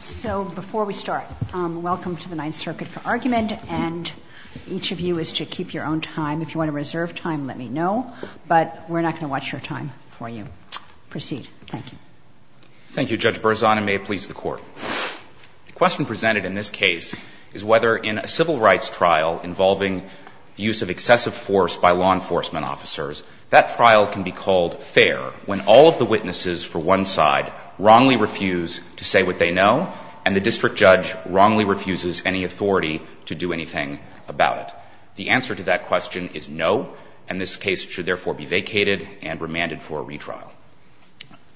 So before we start, welcome to the Ninth Circuit for Argument, and each of you is to keep your own time. If you want to reserve time, let me know, but we're not going to watch your time for you. Proceed. Thank you. Thank you, Judge Berzon, and may it please the Court. The question presented in this case is whether in a civil rights trial involving the use of excessive force by law enforcement officers, that trial can be called fair when all of the witnesses for one side wrongly refuse to say what they know and the district judge wrongly refuses any authority to do anything about it. The answer to that question is no, and this case should therefore be vacated and remanded for a retrial.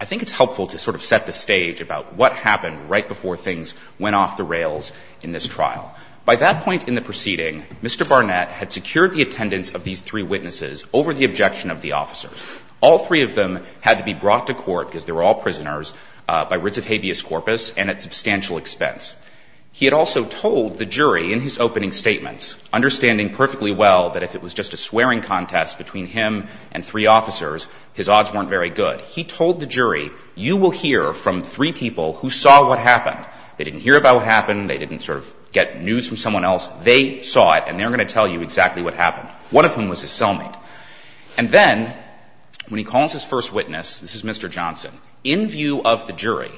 I think it's helpful to sort of set the stage about what happened right before things went off the rails in this trial. By that point in the proceeding, Mr. Barnett had secured the attendance of these three witnesses over the objection of the officers. All three of them had to be brought to court, because they were all prisoners, by writs of habeas corpus and at substantial expense. He had also told the jury in his opening statements, understanding perfectly well that if it was just a swearing contest between him and three officers, his odds weren't very good, he told the jury, you will hear from three people who saw what happened. They didn't hear about what happened, they didn't sort of get news from someone else. They saw it and they're going to tell you exactly what happened, one of whom was his cellmate. And then when he calls his first witness, this is Mr. Johnson, in view of the jury,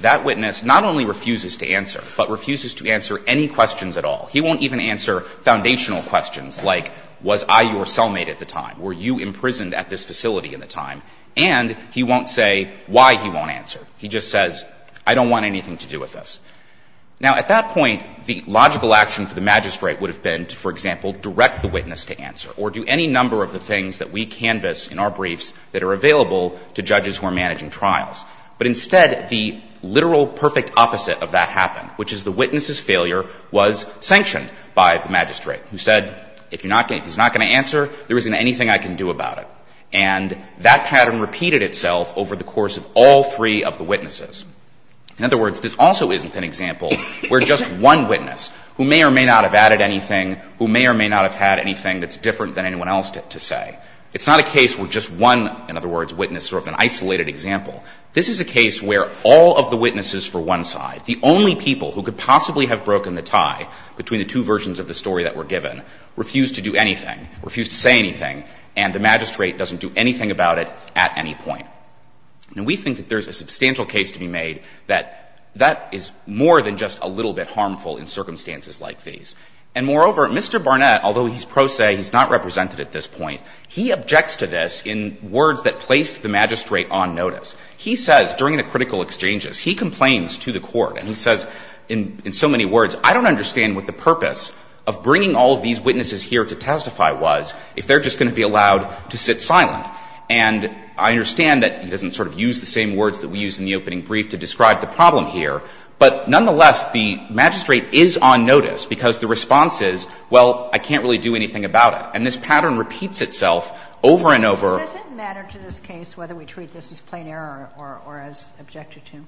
that witness not only refuses to answer, but refuses to answer any questions at all. He won't even answer foundational questions like, was I your cellmate at the time? Were you imprisoned at this facility at the time? And he won't say why he won't answer. He just says, I don't want anything to do with this. Now, at that point, the logical action for the magistrate would have been to, for example, direct the witness to answer or do any number of the things that we canvass in our briefs that are available to judges who are managing trials. But instead, the literal perfect opposite of that happened, which is the witness's failure was sanctioned by the magistrate, who said, if he's not going to answer, there isn't anything I can do about it. And that pattern repeated itself over the course of all three of the witnesses. In other words, this also isn't in the case of the magistrate. This is an example where just one witness, who may or may not have added anything, who may or may not have had anything that's different than anyone else to say. It's not a case where just one, in other words, witness is sort of an isolated example. This is a case where all of the witnesses for one side, the only people who could possibly have broken the tie between the two versions of the story that were given, refused to do anything, refused to say anything, and the magistrate doesn't do anything about it at any point. Now, we think that there's a substantial case to be made that that is more than just a little bit harmful in circumstances like these. And moreover, Mr. Barnett, although he's pro se, he's not represented at this point, he objects to this in words that placed the magistrate on notice. He says, during the critical exchanges, he complains to the Court, and he says in so many words, I don't understand what the purpose of bringing all of these witnesses here to testify was if they're just going to be He doesn't sort of use the same words that we used in the opening brief to describe the problem here. But nonetheless, the magistrate is on notice because the response is, well, I can't really do anything about it. And this pattern repeats itself over and over. Sotomayor Does it matter to this case whether we treat this as plain error or as objected to?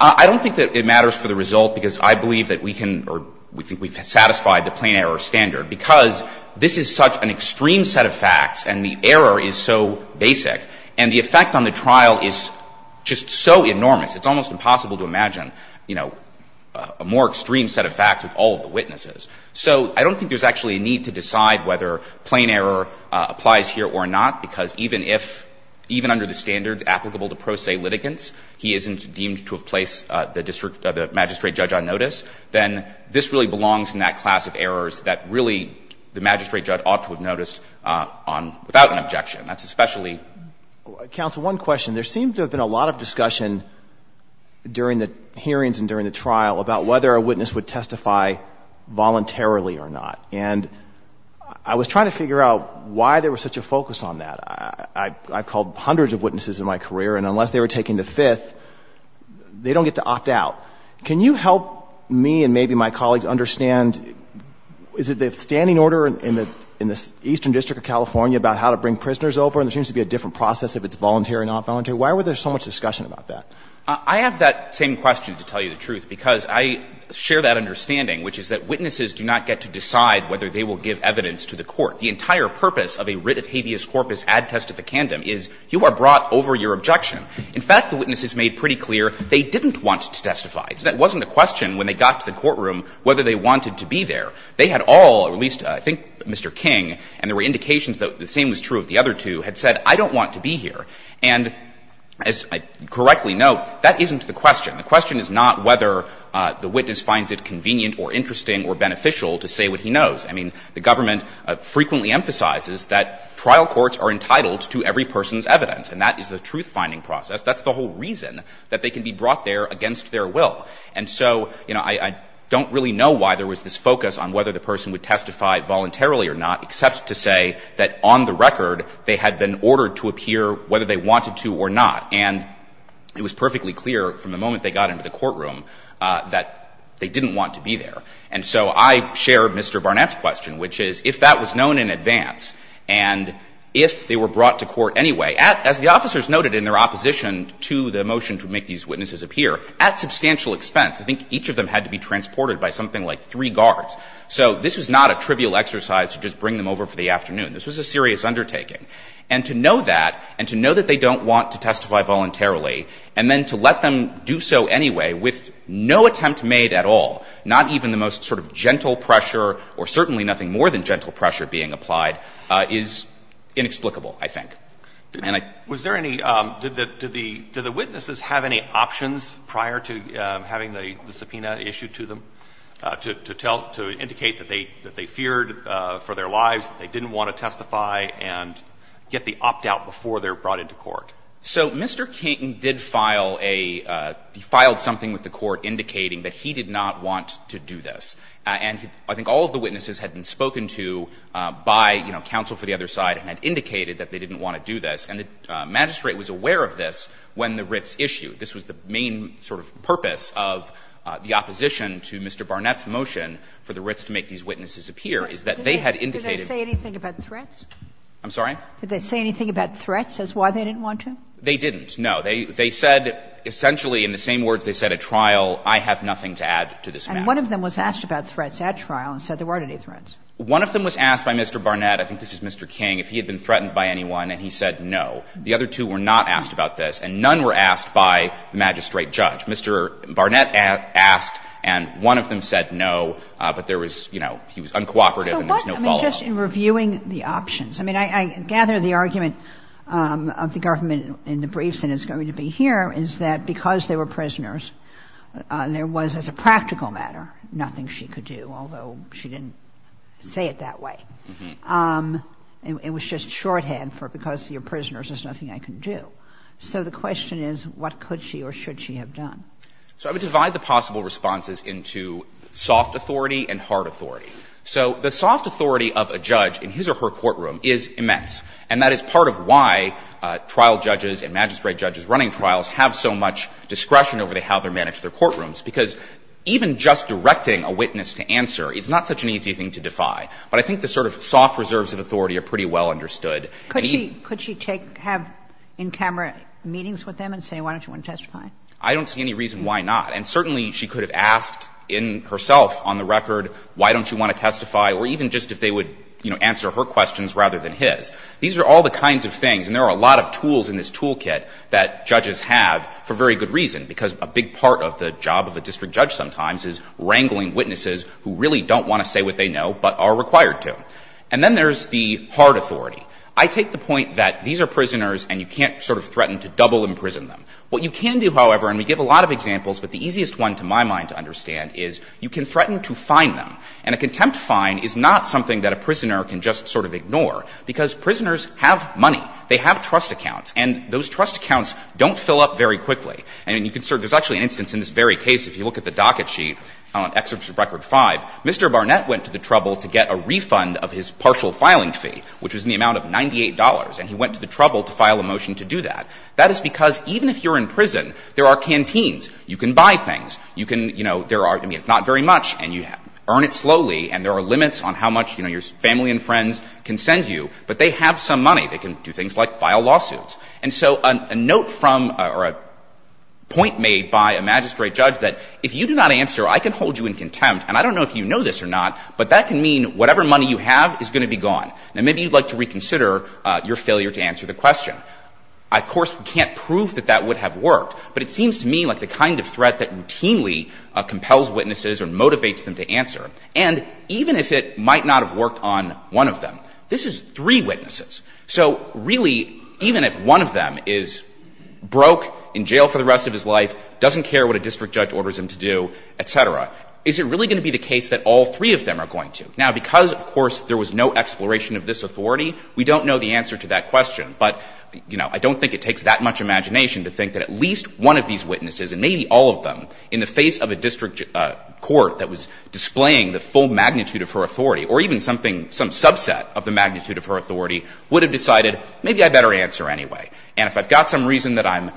I don't think that it matters for the result, because I believe that we can or we think we've satisfied the plain error standard, because this is such an extreme set of facts and the error is so basic. And the effect on the trial is just so enormous. It's almost impossible to imagine, you know, a more extreme set of facts with all of the witnesses. So I don't think there's actually a need to decide whether plain error applies here or not, because even if, even under the standards applicable to pro se litigants, he isn't deemed to have placed the magistrate judge on notice, then this really belongs in that class of errors that really the magistrate judge ought to have noticed on, without an objection. That's especially Counsel, one question. There seems to have been a lot of discussion during the hearings and during the trial about whether a witness would testify voluntarily or not. And I was trying to figure out why there was such a focus on that. I've called hundreds of witnesses in my career, and unless they were taking the fifth, they don't get to opt out. Can you help me and maybe my colleagues understand, is it the standing order in the Eastern District of California about how to bring prisoners over? And there seems to be a different process if it's voluntary or not voluntary. Why were there so much discussion about that? I have that same question, to tell you the truth, because I share that understanding, which is that witnesses do not get to decide whether they will give evidence to the court. The entire purpose of a writ of habeas corpus ad testificandum is you are brought over your objection. In fact, the witnesses made pretty clear they didn't want to testify. It wasn't a question when they got to the courtroom whether they wanted to be there. They had all, at least I think Mr. King, and there were indications that the same was true of the other two, had said, I don't want to be here. And as I correctly note, that isn't the question. The question is not whether the witness finds it convenient or interesting or beneficial to say what he knows. I mean, the government frequently emphasizes that trial courts are entitled to every person's evidence, and that is the truth-finding process. That's the whole reason that they can be brought there against their will. And so, you know, I don't really know why there was this focus on whether the person would testify voluntarily or not, except to say that on the record they had been ordered to appear whether they wanted to or not. And it was perfectly clear from the moment they got into the courtroom that they didn't want to be there. And so I share Mr. Barnett's question, which is, if that was known in advance and if they were brought to court anyway, as the officers noted in their opposition to the motion to make these witnesses appear, at substantial expense, I think each of them had to be transported by something like three guards. So this was not a trivial exercise to just bring them over for the afternoon. This was a serious undertaking. And to know that, and to know that they don't want to testify voluntarily, and then to let them do so anyway with no attempt made at all, not even the most sort of gentle pressure or certainly nothing more than gentle pressure being applied, is inexplicable, I think. And I — Alitoson Was there any — did the witnesses have any options prior to having the subpoena issued to them to tell — to indicate that they feared for their lives, that they didn't want to testify and get the opt-out before they were brought into court? So Mr. King did file a — he filed something with the court indicating that he did not want to do this. And I think all of the witnesses had been spoken to by, you know, counsel for the other side and had indicated that they didn't want to do this. And the magistrate was aware of this when the writs issued. This was the main sort of purpose of the opposition to Mr. Barnett's motion for the writs to make these witnesses appear, is that they had indicated — Sotomayor Did they say anything about threats? I'm sorry? Sotomayor Did they say anything about threats as why they didn't want to? They didn't, no. They said essentially in the same words they said at trial, I have nothing to add to this matter. And one of them was asked about threats at trial and said there weren't any threats. One of them was asked by Mr. Barnett. I think this is Mr. King. If he had been threatened by anyone and he said no, the other two were not asked about this, and none were asked by the magistrate judge. Mr. Barnett asked and one of them said no, but there was, you know, he was uncooperative and there was no follow-up. Kagan I mean, just in reviewing the options. I mean, I gather the argument of the government in the briefs and it's going to be here is that because they were prisoners, there was, as a practical matter, nothing she could do, although she didn't say it that way. It was just shorthand for because you're prisoners, there's nothing I can do. So the question is what could she or should she have done? So I would divide the possible responses into soft authority and hard authority. So the soft authority of a judge in his or her courtroom is immense, and that is part of why trial judges and magistrate judges running trials have so much discretion over how they manage their courtrooms, because even just directing a witness to answer is not such an easy thing to defy. But I think the sort of soft reserves of authority are pretty well understood. And he Could she take, have in-camera meetings with them and say why don't you want to testify? I don't see any reason why not. And certainly she could have asked in herself on the record why don't you want to testify, or even just if they would, you know, answer her questions rather than his. These are all the kinds of things, and there are a lot of tools in this toolkit that judges have for very good reason, because a big part of the job of a district judge sometimes is wrangling witnesses who really don't want to say what they know but are required to. And then there's the hard authority. I take the point that these are prisoners and you can't sort of threaten to double imprison them. What you can do, however, and we give a lot of examples, but the easiest one to my mind to understand is you can threaten to fine them. And a contempt fine is not something that a prisoner can just sort of ignore, because prisoners have money. They have trust accounts, and those trust accounts don't fill up very quickly. And you can sort of – there's actually an instance in this very case, if you look at the docket sheet on Excerpts of Record V, Mr. Barnett went to the trouble to get a refund of his partial filing fee, which was in the amount of $98, and he went to the trouble to file a motion to do that. That is because even if you're in prison, there are canteens. You can buy things. You can, you know, there are – I mean, it's not very much, and you earn it slowly, and there are limits on how much, you know, your family and friends can send you, but they have some money. They can do things like file lawsuits. And so a note from – or a point made by a magistrate judge that if you do not answer, I can hold you in contempt, and I don't know if you know this or not, but that can mean whatever money you have is going to be gone. Now, maybe you'd like to reconsider your failure to answer the question. Of course, we can't prove that that would have worked, but it seems to me like the kind of threat that routinely compels witnesses or motivates them to answer, and even if it might not have worked on one of them. This is three witnesses. So really, even if one of them is broke, in jail for the rest of his life, doesn't care what a district judge orders him to do, et cetera, is it really going to be the case that all three of them are going to? Now, because, of course, there was no exploration of this authority, we don't know the answer to that question. But, you know, I don't think it takes that much imagination to think that at least one of these witnesses, and maybe all of them, in the face of a district court that was displaying the full magnitude of her authority, or even something, some subset of the magnitude of her authority, would have decided, maybe I'd better answer anyway. And if I've got some reason that I'm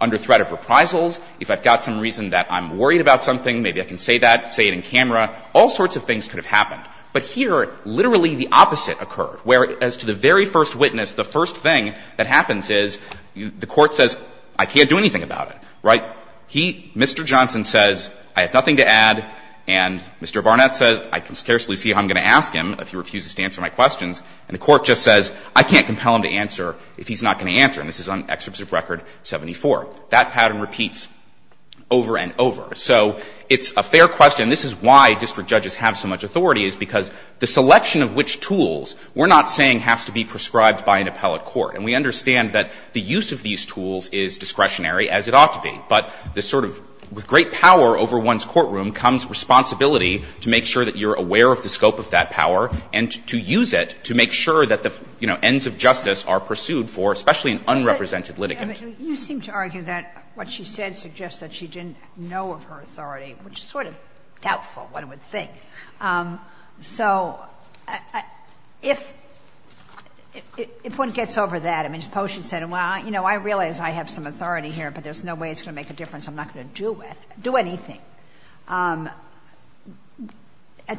under threat of reprisals, if I've got some reason that I'm worried about something, maybe I can say that, say it in camera, all sorts of things could have happened. But here, literally the opposite occurred, where as to the very first witness, the first thing that happens is the court says, I can't do anything about it, right? He, Mr. Johnson says, I have nothing to add, and Mr. Barnett says, I can scarcely see how I'm going to ask him if he refuses to answer my questions, and the court just says, I can't compel him to answer if he's not going to answer, and this is on Excerpts of Record 74. That pattern repeats over and over. So it's a fair question. This is why district judges have so much authority, is because the selection of which tools, we're not saying has to be prescribed by an appellate court. And we understand that the use of these tools is discretionary, as it ought to be. But this sort of, with great power over one's courtroom comes responsibility to make sure that you're aware of the scope of that power and to use it to make sure that the, you know, ends of justice are pursued for, especially in unrepresented litigants. Sotomayor, you seem to argue that what she said suggests that she didn't know of her authority, which is sort of doubtful, one would think. So if one gets over that, I mean, suppose she said, well, you know, I realize I have some authority here, but there's no way it's going to make a difference, I'm not going to do it, do anything. At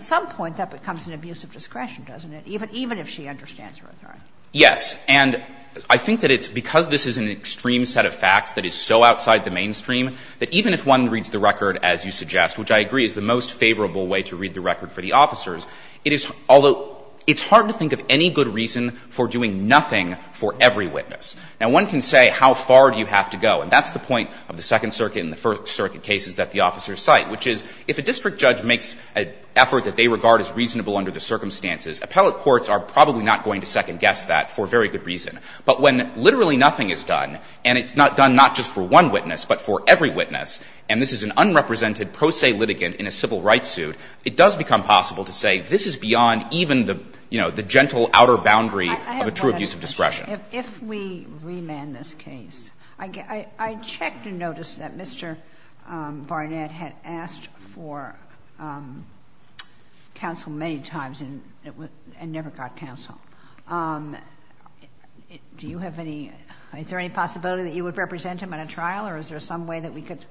some point, that becomes an abuse of discretion, doesn't it, even if she understands her authority? Yes. And I think that it's because this is an extreme set of facts that is so outside the mainstream that even if one reads the record as you suggest, which I agree is the most favorable way to read the record for the officers, it is, although, it's hard to think of any good reason for doing nothing for every witness. Now, one can say how far do you have to go, and that's the point of the Second Circuit cases that the officers cite, which is if a district judge makes an effort that they regard as reasonable under the circumstances, appellate courts are probably not going to second-guess that for very good reason. But when literally nothing is done, and it's done not just for one witness, but for every witness, and this is an unrepresented pro se litigant in a civil rights suit, it does become possible to say this is beyond even the, you know, the gentle outer boundary of a true abuse of discretion. If we remand this case, I checked and noticed that Mr. Barnett had asked for counsel many times and never got counsel. Do you have any – is there any possibility that you would represent him at a trial, or is there some way that we could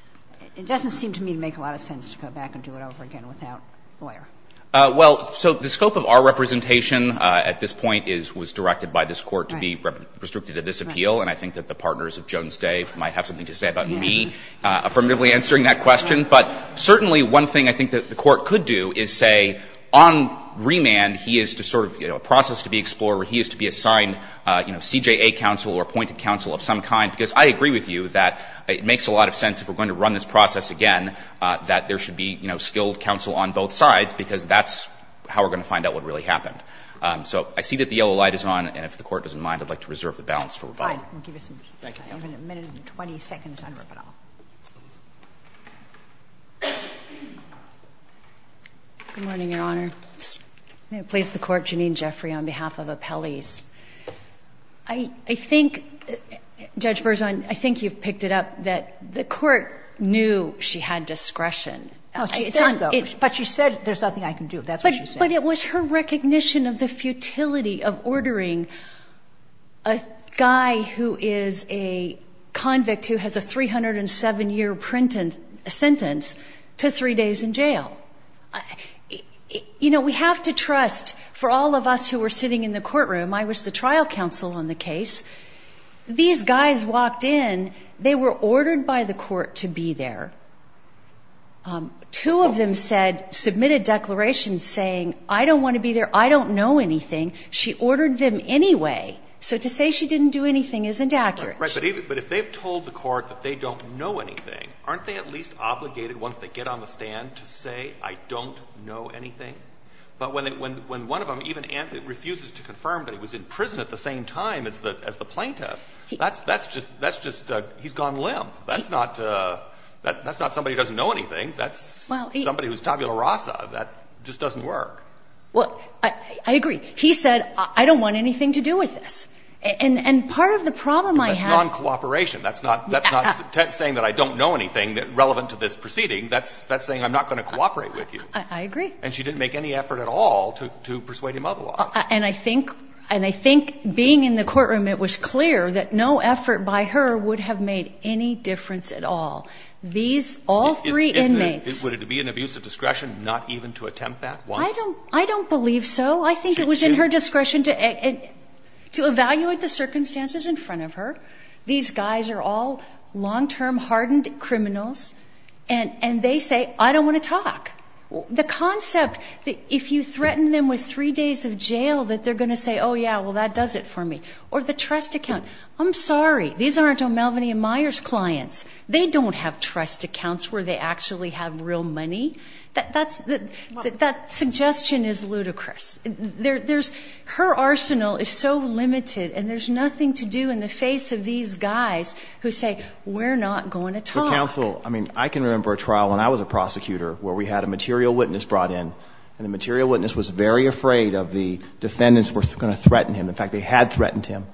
– it doesn't seem to me to make a lot of sense to go back and do it over again without a lawyer. Well, so the scope of our representation at this point is – was directed by this Court to be restricted to this appeal, and I think that the partners of Jones Day might have something to say about me affirmatively answering that question. But certainly one thing I think that the Court could do is say on remand, he is to sort of, you know, a process to be explored where he is to be assigned, you know, CJA counsel or appointed counsel of some kind, because I agree with you that it makes a lot of sense if we're going to run this process again that there should be, you know, counsel on both sides, because that's how we're going to find out what really happened. So I see that the yellow light is on, and if the Court doesn't mind, I'd like to reserve the balance for rebuttal. Thank you. I have a minute and 20 seconds on rebuttal. Good morning, Your Honor. May it please the Court, Janine Jeffrey on behalf of Appellees. I think, Judge Berzon, I think you've picked it up that the Court knew she had discretion. But she said there's nothing I can do, that's what she said. But it was her recognition of the futility of ordering a guy who is a convict who has a 307-year sentence to three days in jail. You know, we have to trust, for all of us who were sitting in the courtroom, I was the trial counsel on the case, these guys walked in, they were ordered by the Court to be there. Two of them said, submitted declarations saying, I don't want to be there, I don't know anything. She ordered them anyway. So to say she didn't do anything isn't accurate. Right. But if they've told the Court that they don't know anything, aren't they at least obligated, once they get on the stand, to say, I don't know anything? But when one of them even refuses to confirm that he was in prison at the same time as the plaintiff, that's just, he's gone limp. That's not somebody who doesn't know anything. That's somebody who's tabula rasa. That just doesn't work. Well, I agree. He said, I don't want anything to do with this. And part of the problem I have That's non-cooperation. That's not saying that I don't know anything relevant to this proceeding. That's saying I'm not going to cooperate with you. I agree. And she didn't make any effort at all to persuade him otherwise. And I think being in the courtroom, it was clear that no effort by her would have made any difference at all. These, all three inmates. Would it be an abuse of discretion not even to attempt that once? I don't believe so. I think it was in her discretion to evaluate the circumstances in front of her. These guys are all long-term, hardened criminals. And they say, I don't want to talk. The concept that if you threaten them with three days of jail, that they're going to say, oh, yeah, well, that does it for me. Or the trust account. I'm sorry. These aren't O'Melveny and Myers clients. They don't have trust accounts where they actually have real money. That suggestion is ludicrous. Her arsenal is so limited. And there's nothing to do in the face of these guys who say, we're not going to talk. Counsel, I can remember a trial when I was a prosecutor where we had a material witness brought in. And the material witness was very afraid of the defendants were going to threaten him. In fact, they had threatened him.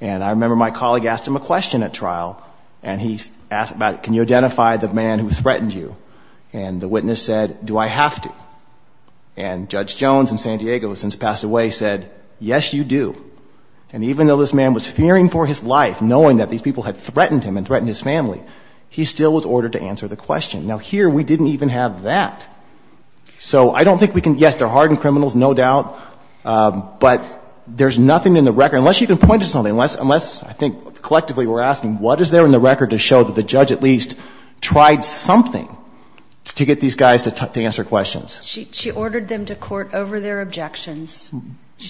And I remember my colleague asked him a question at trial. And he asked about, can you identify the man who threatened you? And the witness said, do I have to? And Judge Jones in San Diego, who has since passed away, said, yes, you do. And even though this man was fearing for his life, knowing that these people had threatened him and threatened his family, he still was ordered to answer the question. Now, here, we didn't even have that. So I don't think we can, yes, they're hardened criminals, no doubt. But there's nothing in the record, unless you can point to something, unless I think collectively we're asking, what is there in the record to show that the judge at least tried something to get these guys to answer questions? She ordered them to court over their objections.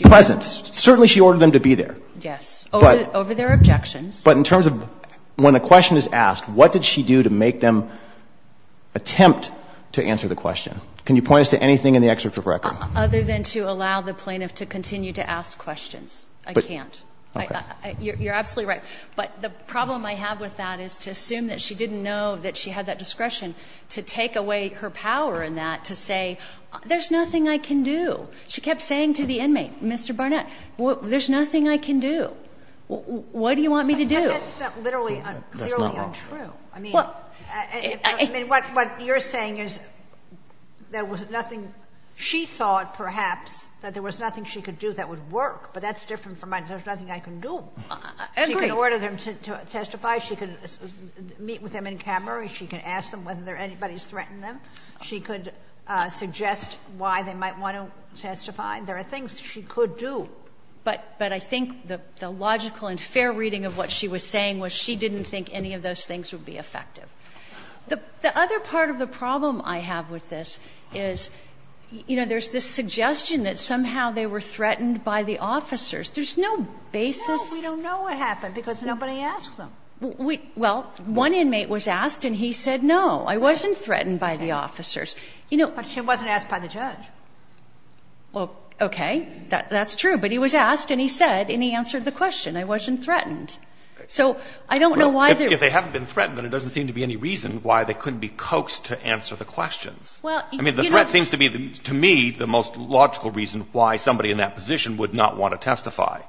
Presence. Certainly she ordered them to be there. Yes. Over their objections. But in terms of when a question is asked, what did she do to make them attempt to answer the question? Can you point us to anything in the excerpt of record? Other than to allow the plaintiff to continue to ask questions. I can't. Okay. You're absolutely right. But the problem I have with that is to assume that she didn't know that she had that discretion to take away her power in that to say, there's nothing I can do. She kept saying to the inmate, Mr. Barnett, there's nothing I can do. What do you want me to do? But that's not literally, clearly untrue. I mean, what you're saying is there was nothing she thought perhaps that there was nothing she could do that would work. But that's different from there's nothing I can do. I agree. She can order them to testify. She can meet with them in Cameroon. She can ask them whether anybody's threatened them. She could suggest why they might want to testify. There are things she could do. But I think the logical and fair reading of what she was saying was she didn't think any of those things would be effective. The other part of the problem I have with this is, you know, there's this suggestion that somehow they were threatened by the officers. There's no basis. No. We don't know what happened because nobody asked them. Well, one inmate was asked and he said, no, I wasn't threatened by the officers. But she wasn't asked by the judge. Well, okay. That's true. But he was asked and he said and he answered the question. I wasn't threatened. So I don't know why they were. Well, if they haven't been threatened, then there doesn't seem to be any reason why they couldn't be coaxed to answer the questions. Well, you know. I mean, the threat seems to be, to me, the most logical reason why somebody in that position would not want to testify.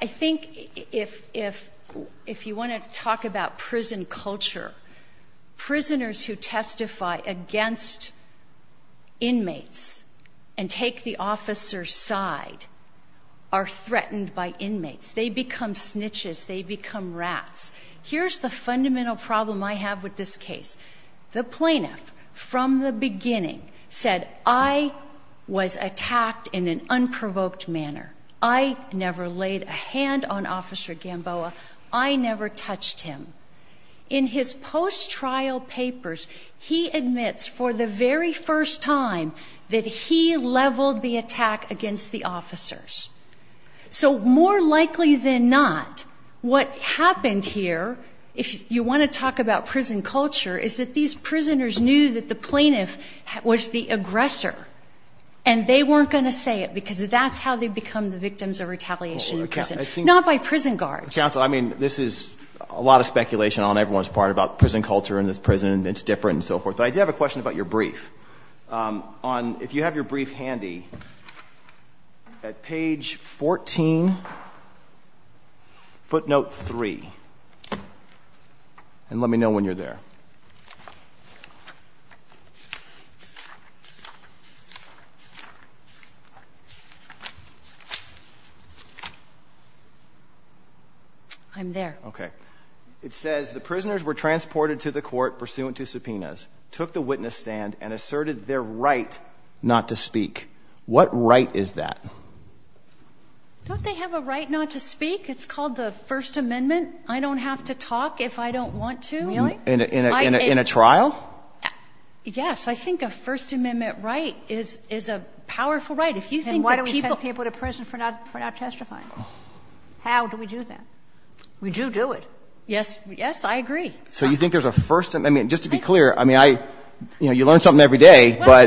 I think if you want to talk about prison culture, prisoners who testify against inmates and take the officer's side are threatened by inmates. They become snitches. They become rats. Here's the fundamental problem I have with this case. The plaintiff, from the beginning, said, I was attacked in an unprovoked manner. I never laid a hand on Officer Gamboa. I never touched him. In his post-trial papers, he admits for the very first time that he leveled the attack against the officers. So more likely than not, what happened here, if you want to talk about prison culture, is that these prisoners knew that the plaintiff was the aggressor. And they weren't going to say it because that's how they become the victims of retaliation in prison. Not by prison guards. Counsel, I mean, this is a lot of speculation on everyone's part about prison culture in this prison. It's different and so forth. But I do have a question about your brief. If you have your brief handy, at page 14, footnote 3. And let me know when you're there. I'm there. Okay. It says, the prisoners were transported to the court pursuant to subpoenas, took the witness stand, and asserted their right not to speak. What right is that? Don't they have a right not to speak? It's called the First Amendment. I don't have to talk if I don't want to. Really? In a trial? Yes. I think a First Amendment right is a powerful right. Then why do we send people to prison for not testifying? How do we do that? We do do it. Yes. I agree. So you think there's a First Amendment? Just to be clear, you learn something every day. I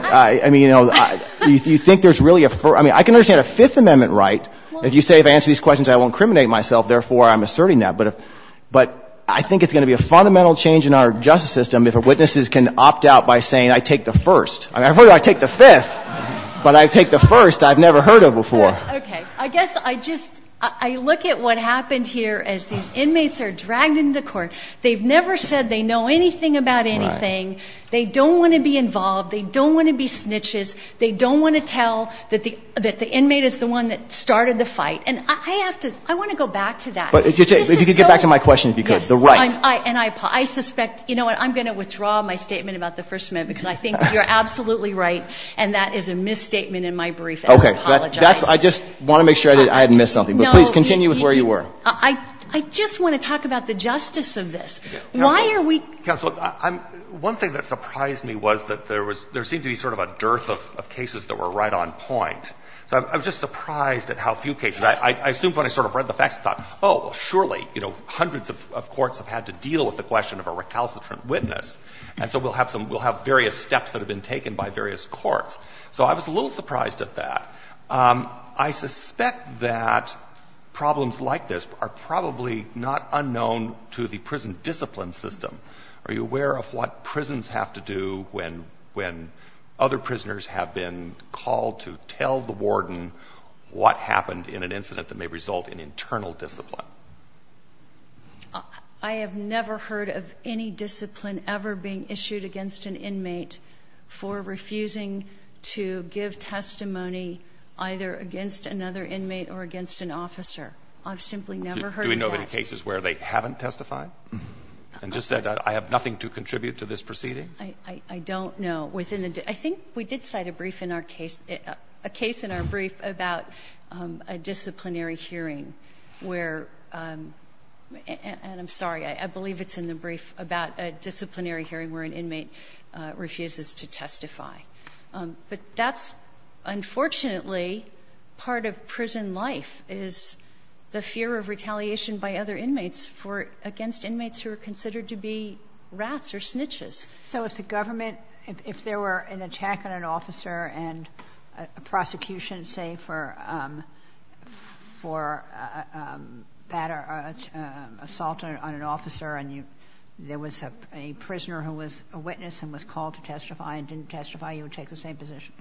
can understand a Fifth Amendment right. If you say if I answer these questions, I won't incriminate myself, therefore, I'm asserting that. But I think it's going to be a fundamental change in our justice system if witnesses can opt out by saying, I take the first. I take the fifth, but I take the first. I've never heard of before. Okay. I guess I just look at what happened here as these inmates are dragged into court. They've never said they know anything about anything. They don't want to be involved. They don't want to be snitches. They don't want to tell that the inmate is the one that started the fight. And I have to, I want to go back to that. But if you could get back to my question, if you could, the right. I suspect, you know what, I'm going to withdraw my statement about the First Amendment because I think you're absolutely right and that is a misstatement in my brief and I apologize. Okay. I just want to make sure I hadn't missed something. But please continue with where you were. I just want to talk about the justice of this. Why are we? Counsel, one thing that surprised me was that there seemed to be sort of a dearth of cases that were right on point. So I was just surprised at how few cases. I assumed when I sort of read the facts, I thought, oh, surely, you know, hundreds of courts have had to deal with the question of a recalcitrant witness. And so we'll have some, we'll have various steps that have been taken by various So I was a little surprised at that. I suspect that problems like this are probably not unknown to the prison discipline system. Are you aware of what prisons have to do when other prisoners have been called to tell the warden what happened in an incident that may result in internal discipline? I have never heard of any discipline ever being issued against an inmate for refusing to give testimony either against another inmate or against an officer. I've simply never heard of that. Do we know of any cases where they haven't testified? And just that I have nothing to contribute to this proceeding? I don't know. I think we did cite a brief in our case, a case in our brief about a disciplinary hearing where, and I'm sorry, I believe it's in the brief about a disciplinary hearing where an inmate refuses to testify. But that's unfortunately part of prison life is the fear of retaliation by other inmates for, against inmates who are considered to be rats or snitches. So if the government, if there were an attack on an officer and a prosecution say for, for assault on an officer and you, there was a prisoner or an inmate who was a witness and was called to testify and didn't testify, you would take the same position?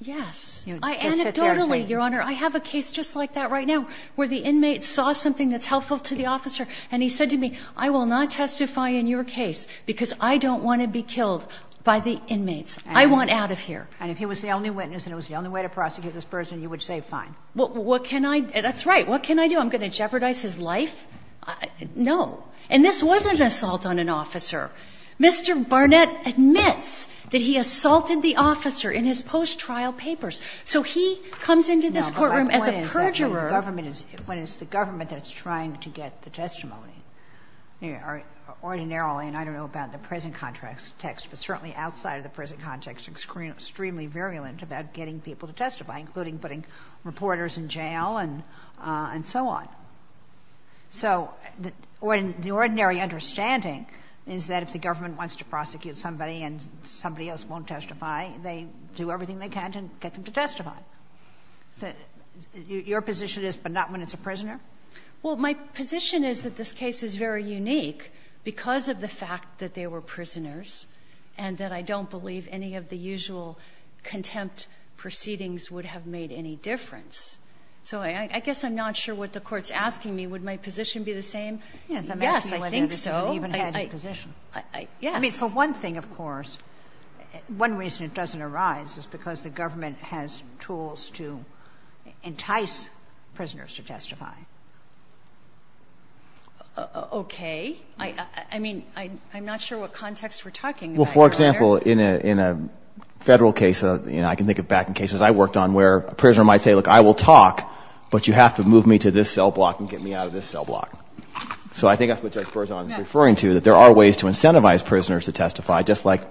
Yes. You would just sit there and say. Anecdotally, Your Honor, I have a case just like that right now where the inmate saw something that's helpful to the officer and he said to me, I will not testify in your case because I don't want to be killed by the inmates. I want out of here. And if he was the only witness and it was the only way to prosecute this person, you would say fine. What can I, that's right, what can I do? I'm going to jeopardize his life? No. And this wasn't an assault on an officer. Mr. Barnett admits that he assaulted the officer in his post-trial papers. So he comes into this courtroom as a perjurer. No, but my point is that when the government is, when it's the government that's trying to get the testimony, ordinarily, and I don't know about the present context, but certainly outside of the present context, extremely virulent about getting people to testify, including putting reporters in jail and, and so on. So the ordinary understanding is that if the government wants to prosecute somebody and somebody else won't testify, they do everything they can to get them to testify. So your position is, but not when it's a prisoner? Well, my position is that this case is very unique because of the fact that they were prisoners and that I don't believe any of the usual contempt proceedings would have made any difference. So I guess I'm not sure what the court's asking me. Would my position be the same? Yes, I think so. I mean, for one thing, of course, one reason it doesn't arise is because the government has tools to entice prisoners to testify. Okay. I mean, I'm not sure what context we're talking about here. Well, for example, in a federal case, you know, I can think of back in cases I worked on where a prisoner might say, look, I will talk, but you have to move me to this cell block and get me out of this cell block. So I think that's what Judge Berzon is referring to, that there are ways to incentivize prisoners to testify, just like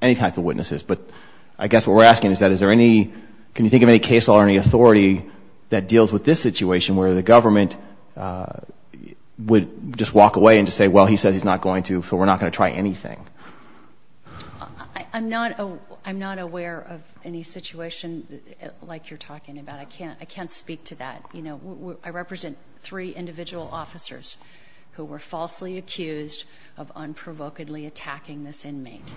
any type of witnesses. But I guess what we're asking is that is there any, can you think of any case law or any authority that deals with this situation where the government would just walk away and just say, well, he says he's not going to, so we're not going to try anything? I'm not aware of any situation like you're talking about. I can't speak to that. You know, I represent three individual officers who were falsely accused of unprovokedly attacking this inmate.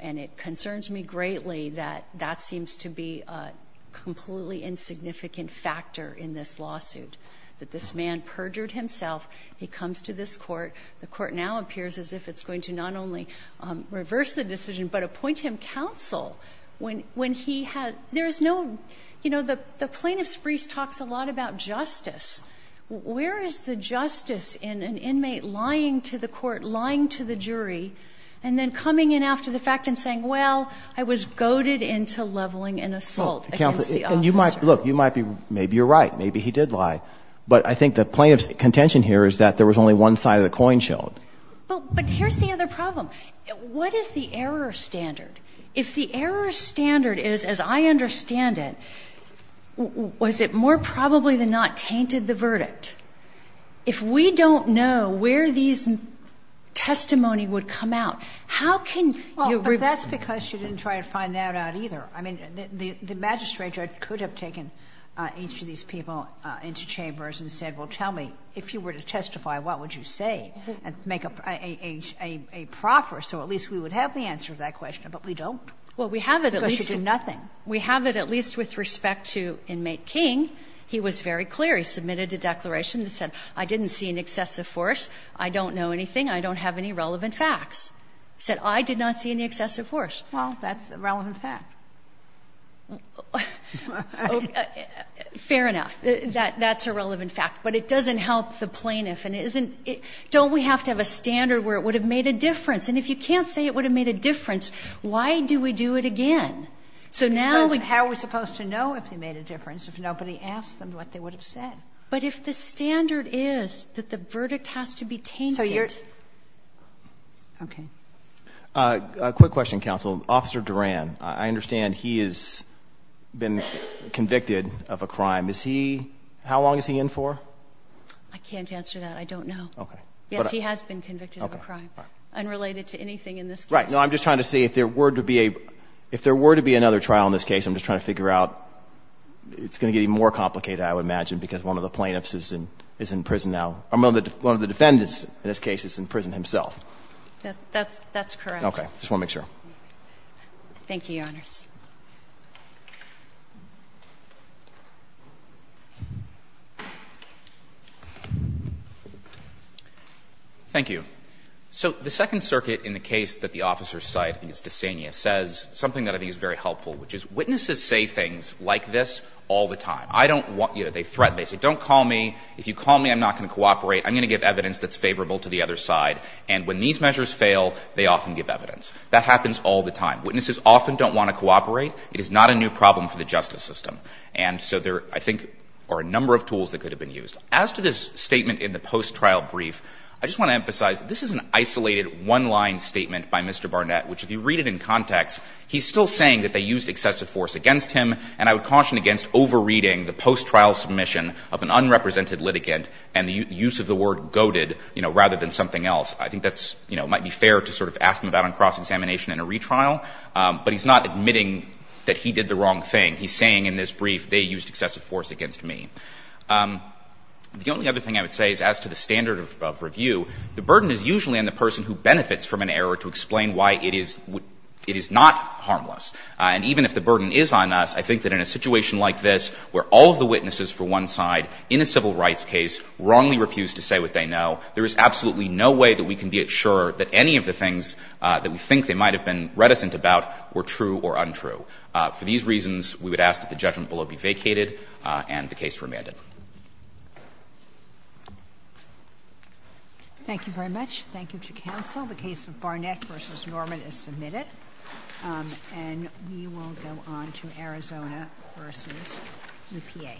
And it concerns me greatly that that seems to be a completely insignificant factor in this lawsuit, that this man perjured himself. He comes to this court. The court now appears as if it's going to not only reverse the decision, but appoint him counsel when he has, there is no, you know, the plaintiff's brief talks a lot about justice. Where is the justice in an inmate lying to the court, lying to the jury, and then coming in after the fact and saying, well, I was goaded into leveling an assault against the officer? Look, maybe you're right. Maybe he did lie. But I think the plaintiff's contention here is that there was only one side of the coin showed. But here's the other problem. What is the error standard? If the error standard is, as I understand it, was it more probably than not tainted the verdict? If we don't know where these testimony would come out, how can you reverse the decision? Well, but that's because you didn't try to find that out either. I mean, the magistrate judge could have taken each of these people into chambers and said, well, tell me, if you were to testify, what would you say, and make a proffer. So at least we would have the answer to that question, but we don't. Because you do nothing. Well, we have it at least with respect to inmate King. He was very clear. He submitted a declaration that said, I didn't see an excessive force. I don't know anything. I don't have any relevant facts. He said, I did not see any excessive force. Well, that's a relevant fact. Fair enough. That's a relevant fact. But it doesn't help the plaintiff. Don't we have to have a standard where it would have made a difference? And if you can't say it would have made a difference, why do we do it again? Because how are we supposed to know if they made a difference if nobody asked them what they would have said? But if the standard is that the verdict has to be tainted. So you're – okay. A quick question, counsel. Officer Duran, I understand he has been convicted of a crime. Is he – how long is he in for? I can't answer that. I don't know. Okay. Yes, he has been convicted of a crime. Okay. Unrelated to anything in this case. Right. No, I'm just trying to see if there were to be a – if there were to be another trial in this case, I'm just trying to figure out – it's going to get even more complicated, I would imagine, because one of the plaintiffs is in prison now. One of the defendants in this case is in prison himself. That's correct. Okay. I just want to make sure. Thank you, Your Honors. Thank you. So the Second Circuit, in the case that the officers cite, I think it's DeSania, says something that I think is very helpful, which is witnesses say things like this all the time. I don't want – you know, they threaten. They say, don't call me. If you call me, I'm not going to cooperate. I'm going to give evidence that's favorable to the other side. And when these measures fail, they often give evidence. Witnesses often don't want to cooperate. They say, I don't want to cooperate. It is not a new problem for the justice system. And so there, I think, are a number of tools that could have been used. As to this statement in the post-trial brief, I just want to emphasize that this is an isolated, one-line statement by Mr. Barnett, which, if you read it in context, he's still saying that they used excessive force against him, and I would caution against over-reading the post-trial submission of an unrepresented litigant and the use of the word goaded, you know, rather than something else. I think that's – you know, it might be fair to sort of ask him about it on cross examination in a retrial. But he's not admitting that he did the wrong thing. He's saying in this brief, they used excessive force against me. The only other thing I would say is, as to the standard of review, the burden is usually on the person who benefits from an error to explain why it is – it is not harmless. And even if the burden is on us, I think that in a situation like this, where all of the witnesses for one side in a civil rights case wrongly refuse to say what they know, there is absolutely no way that we can be sure that any of the things that we think they might have been reticent about were true or untrue. For these reasons, we would ask that the judgment below be vacated and the case remanded. Thank you very much. Thank you to counsel. The case of Barnett v. Norman is submitted. And we will go on to Arizona v. Lupie.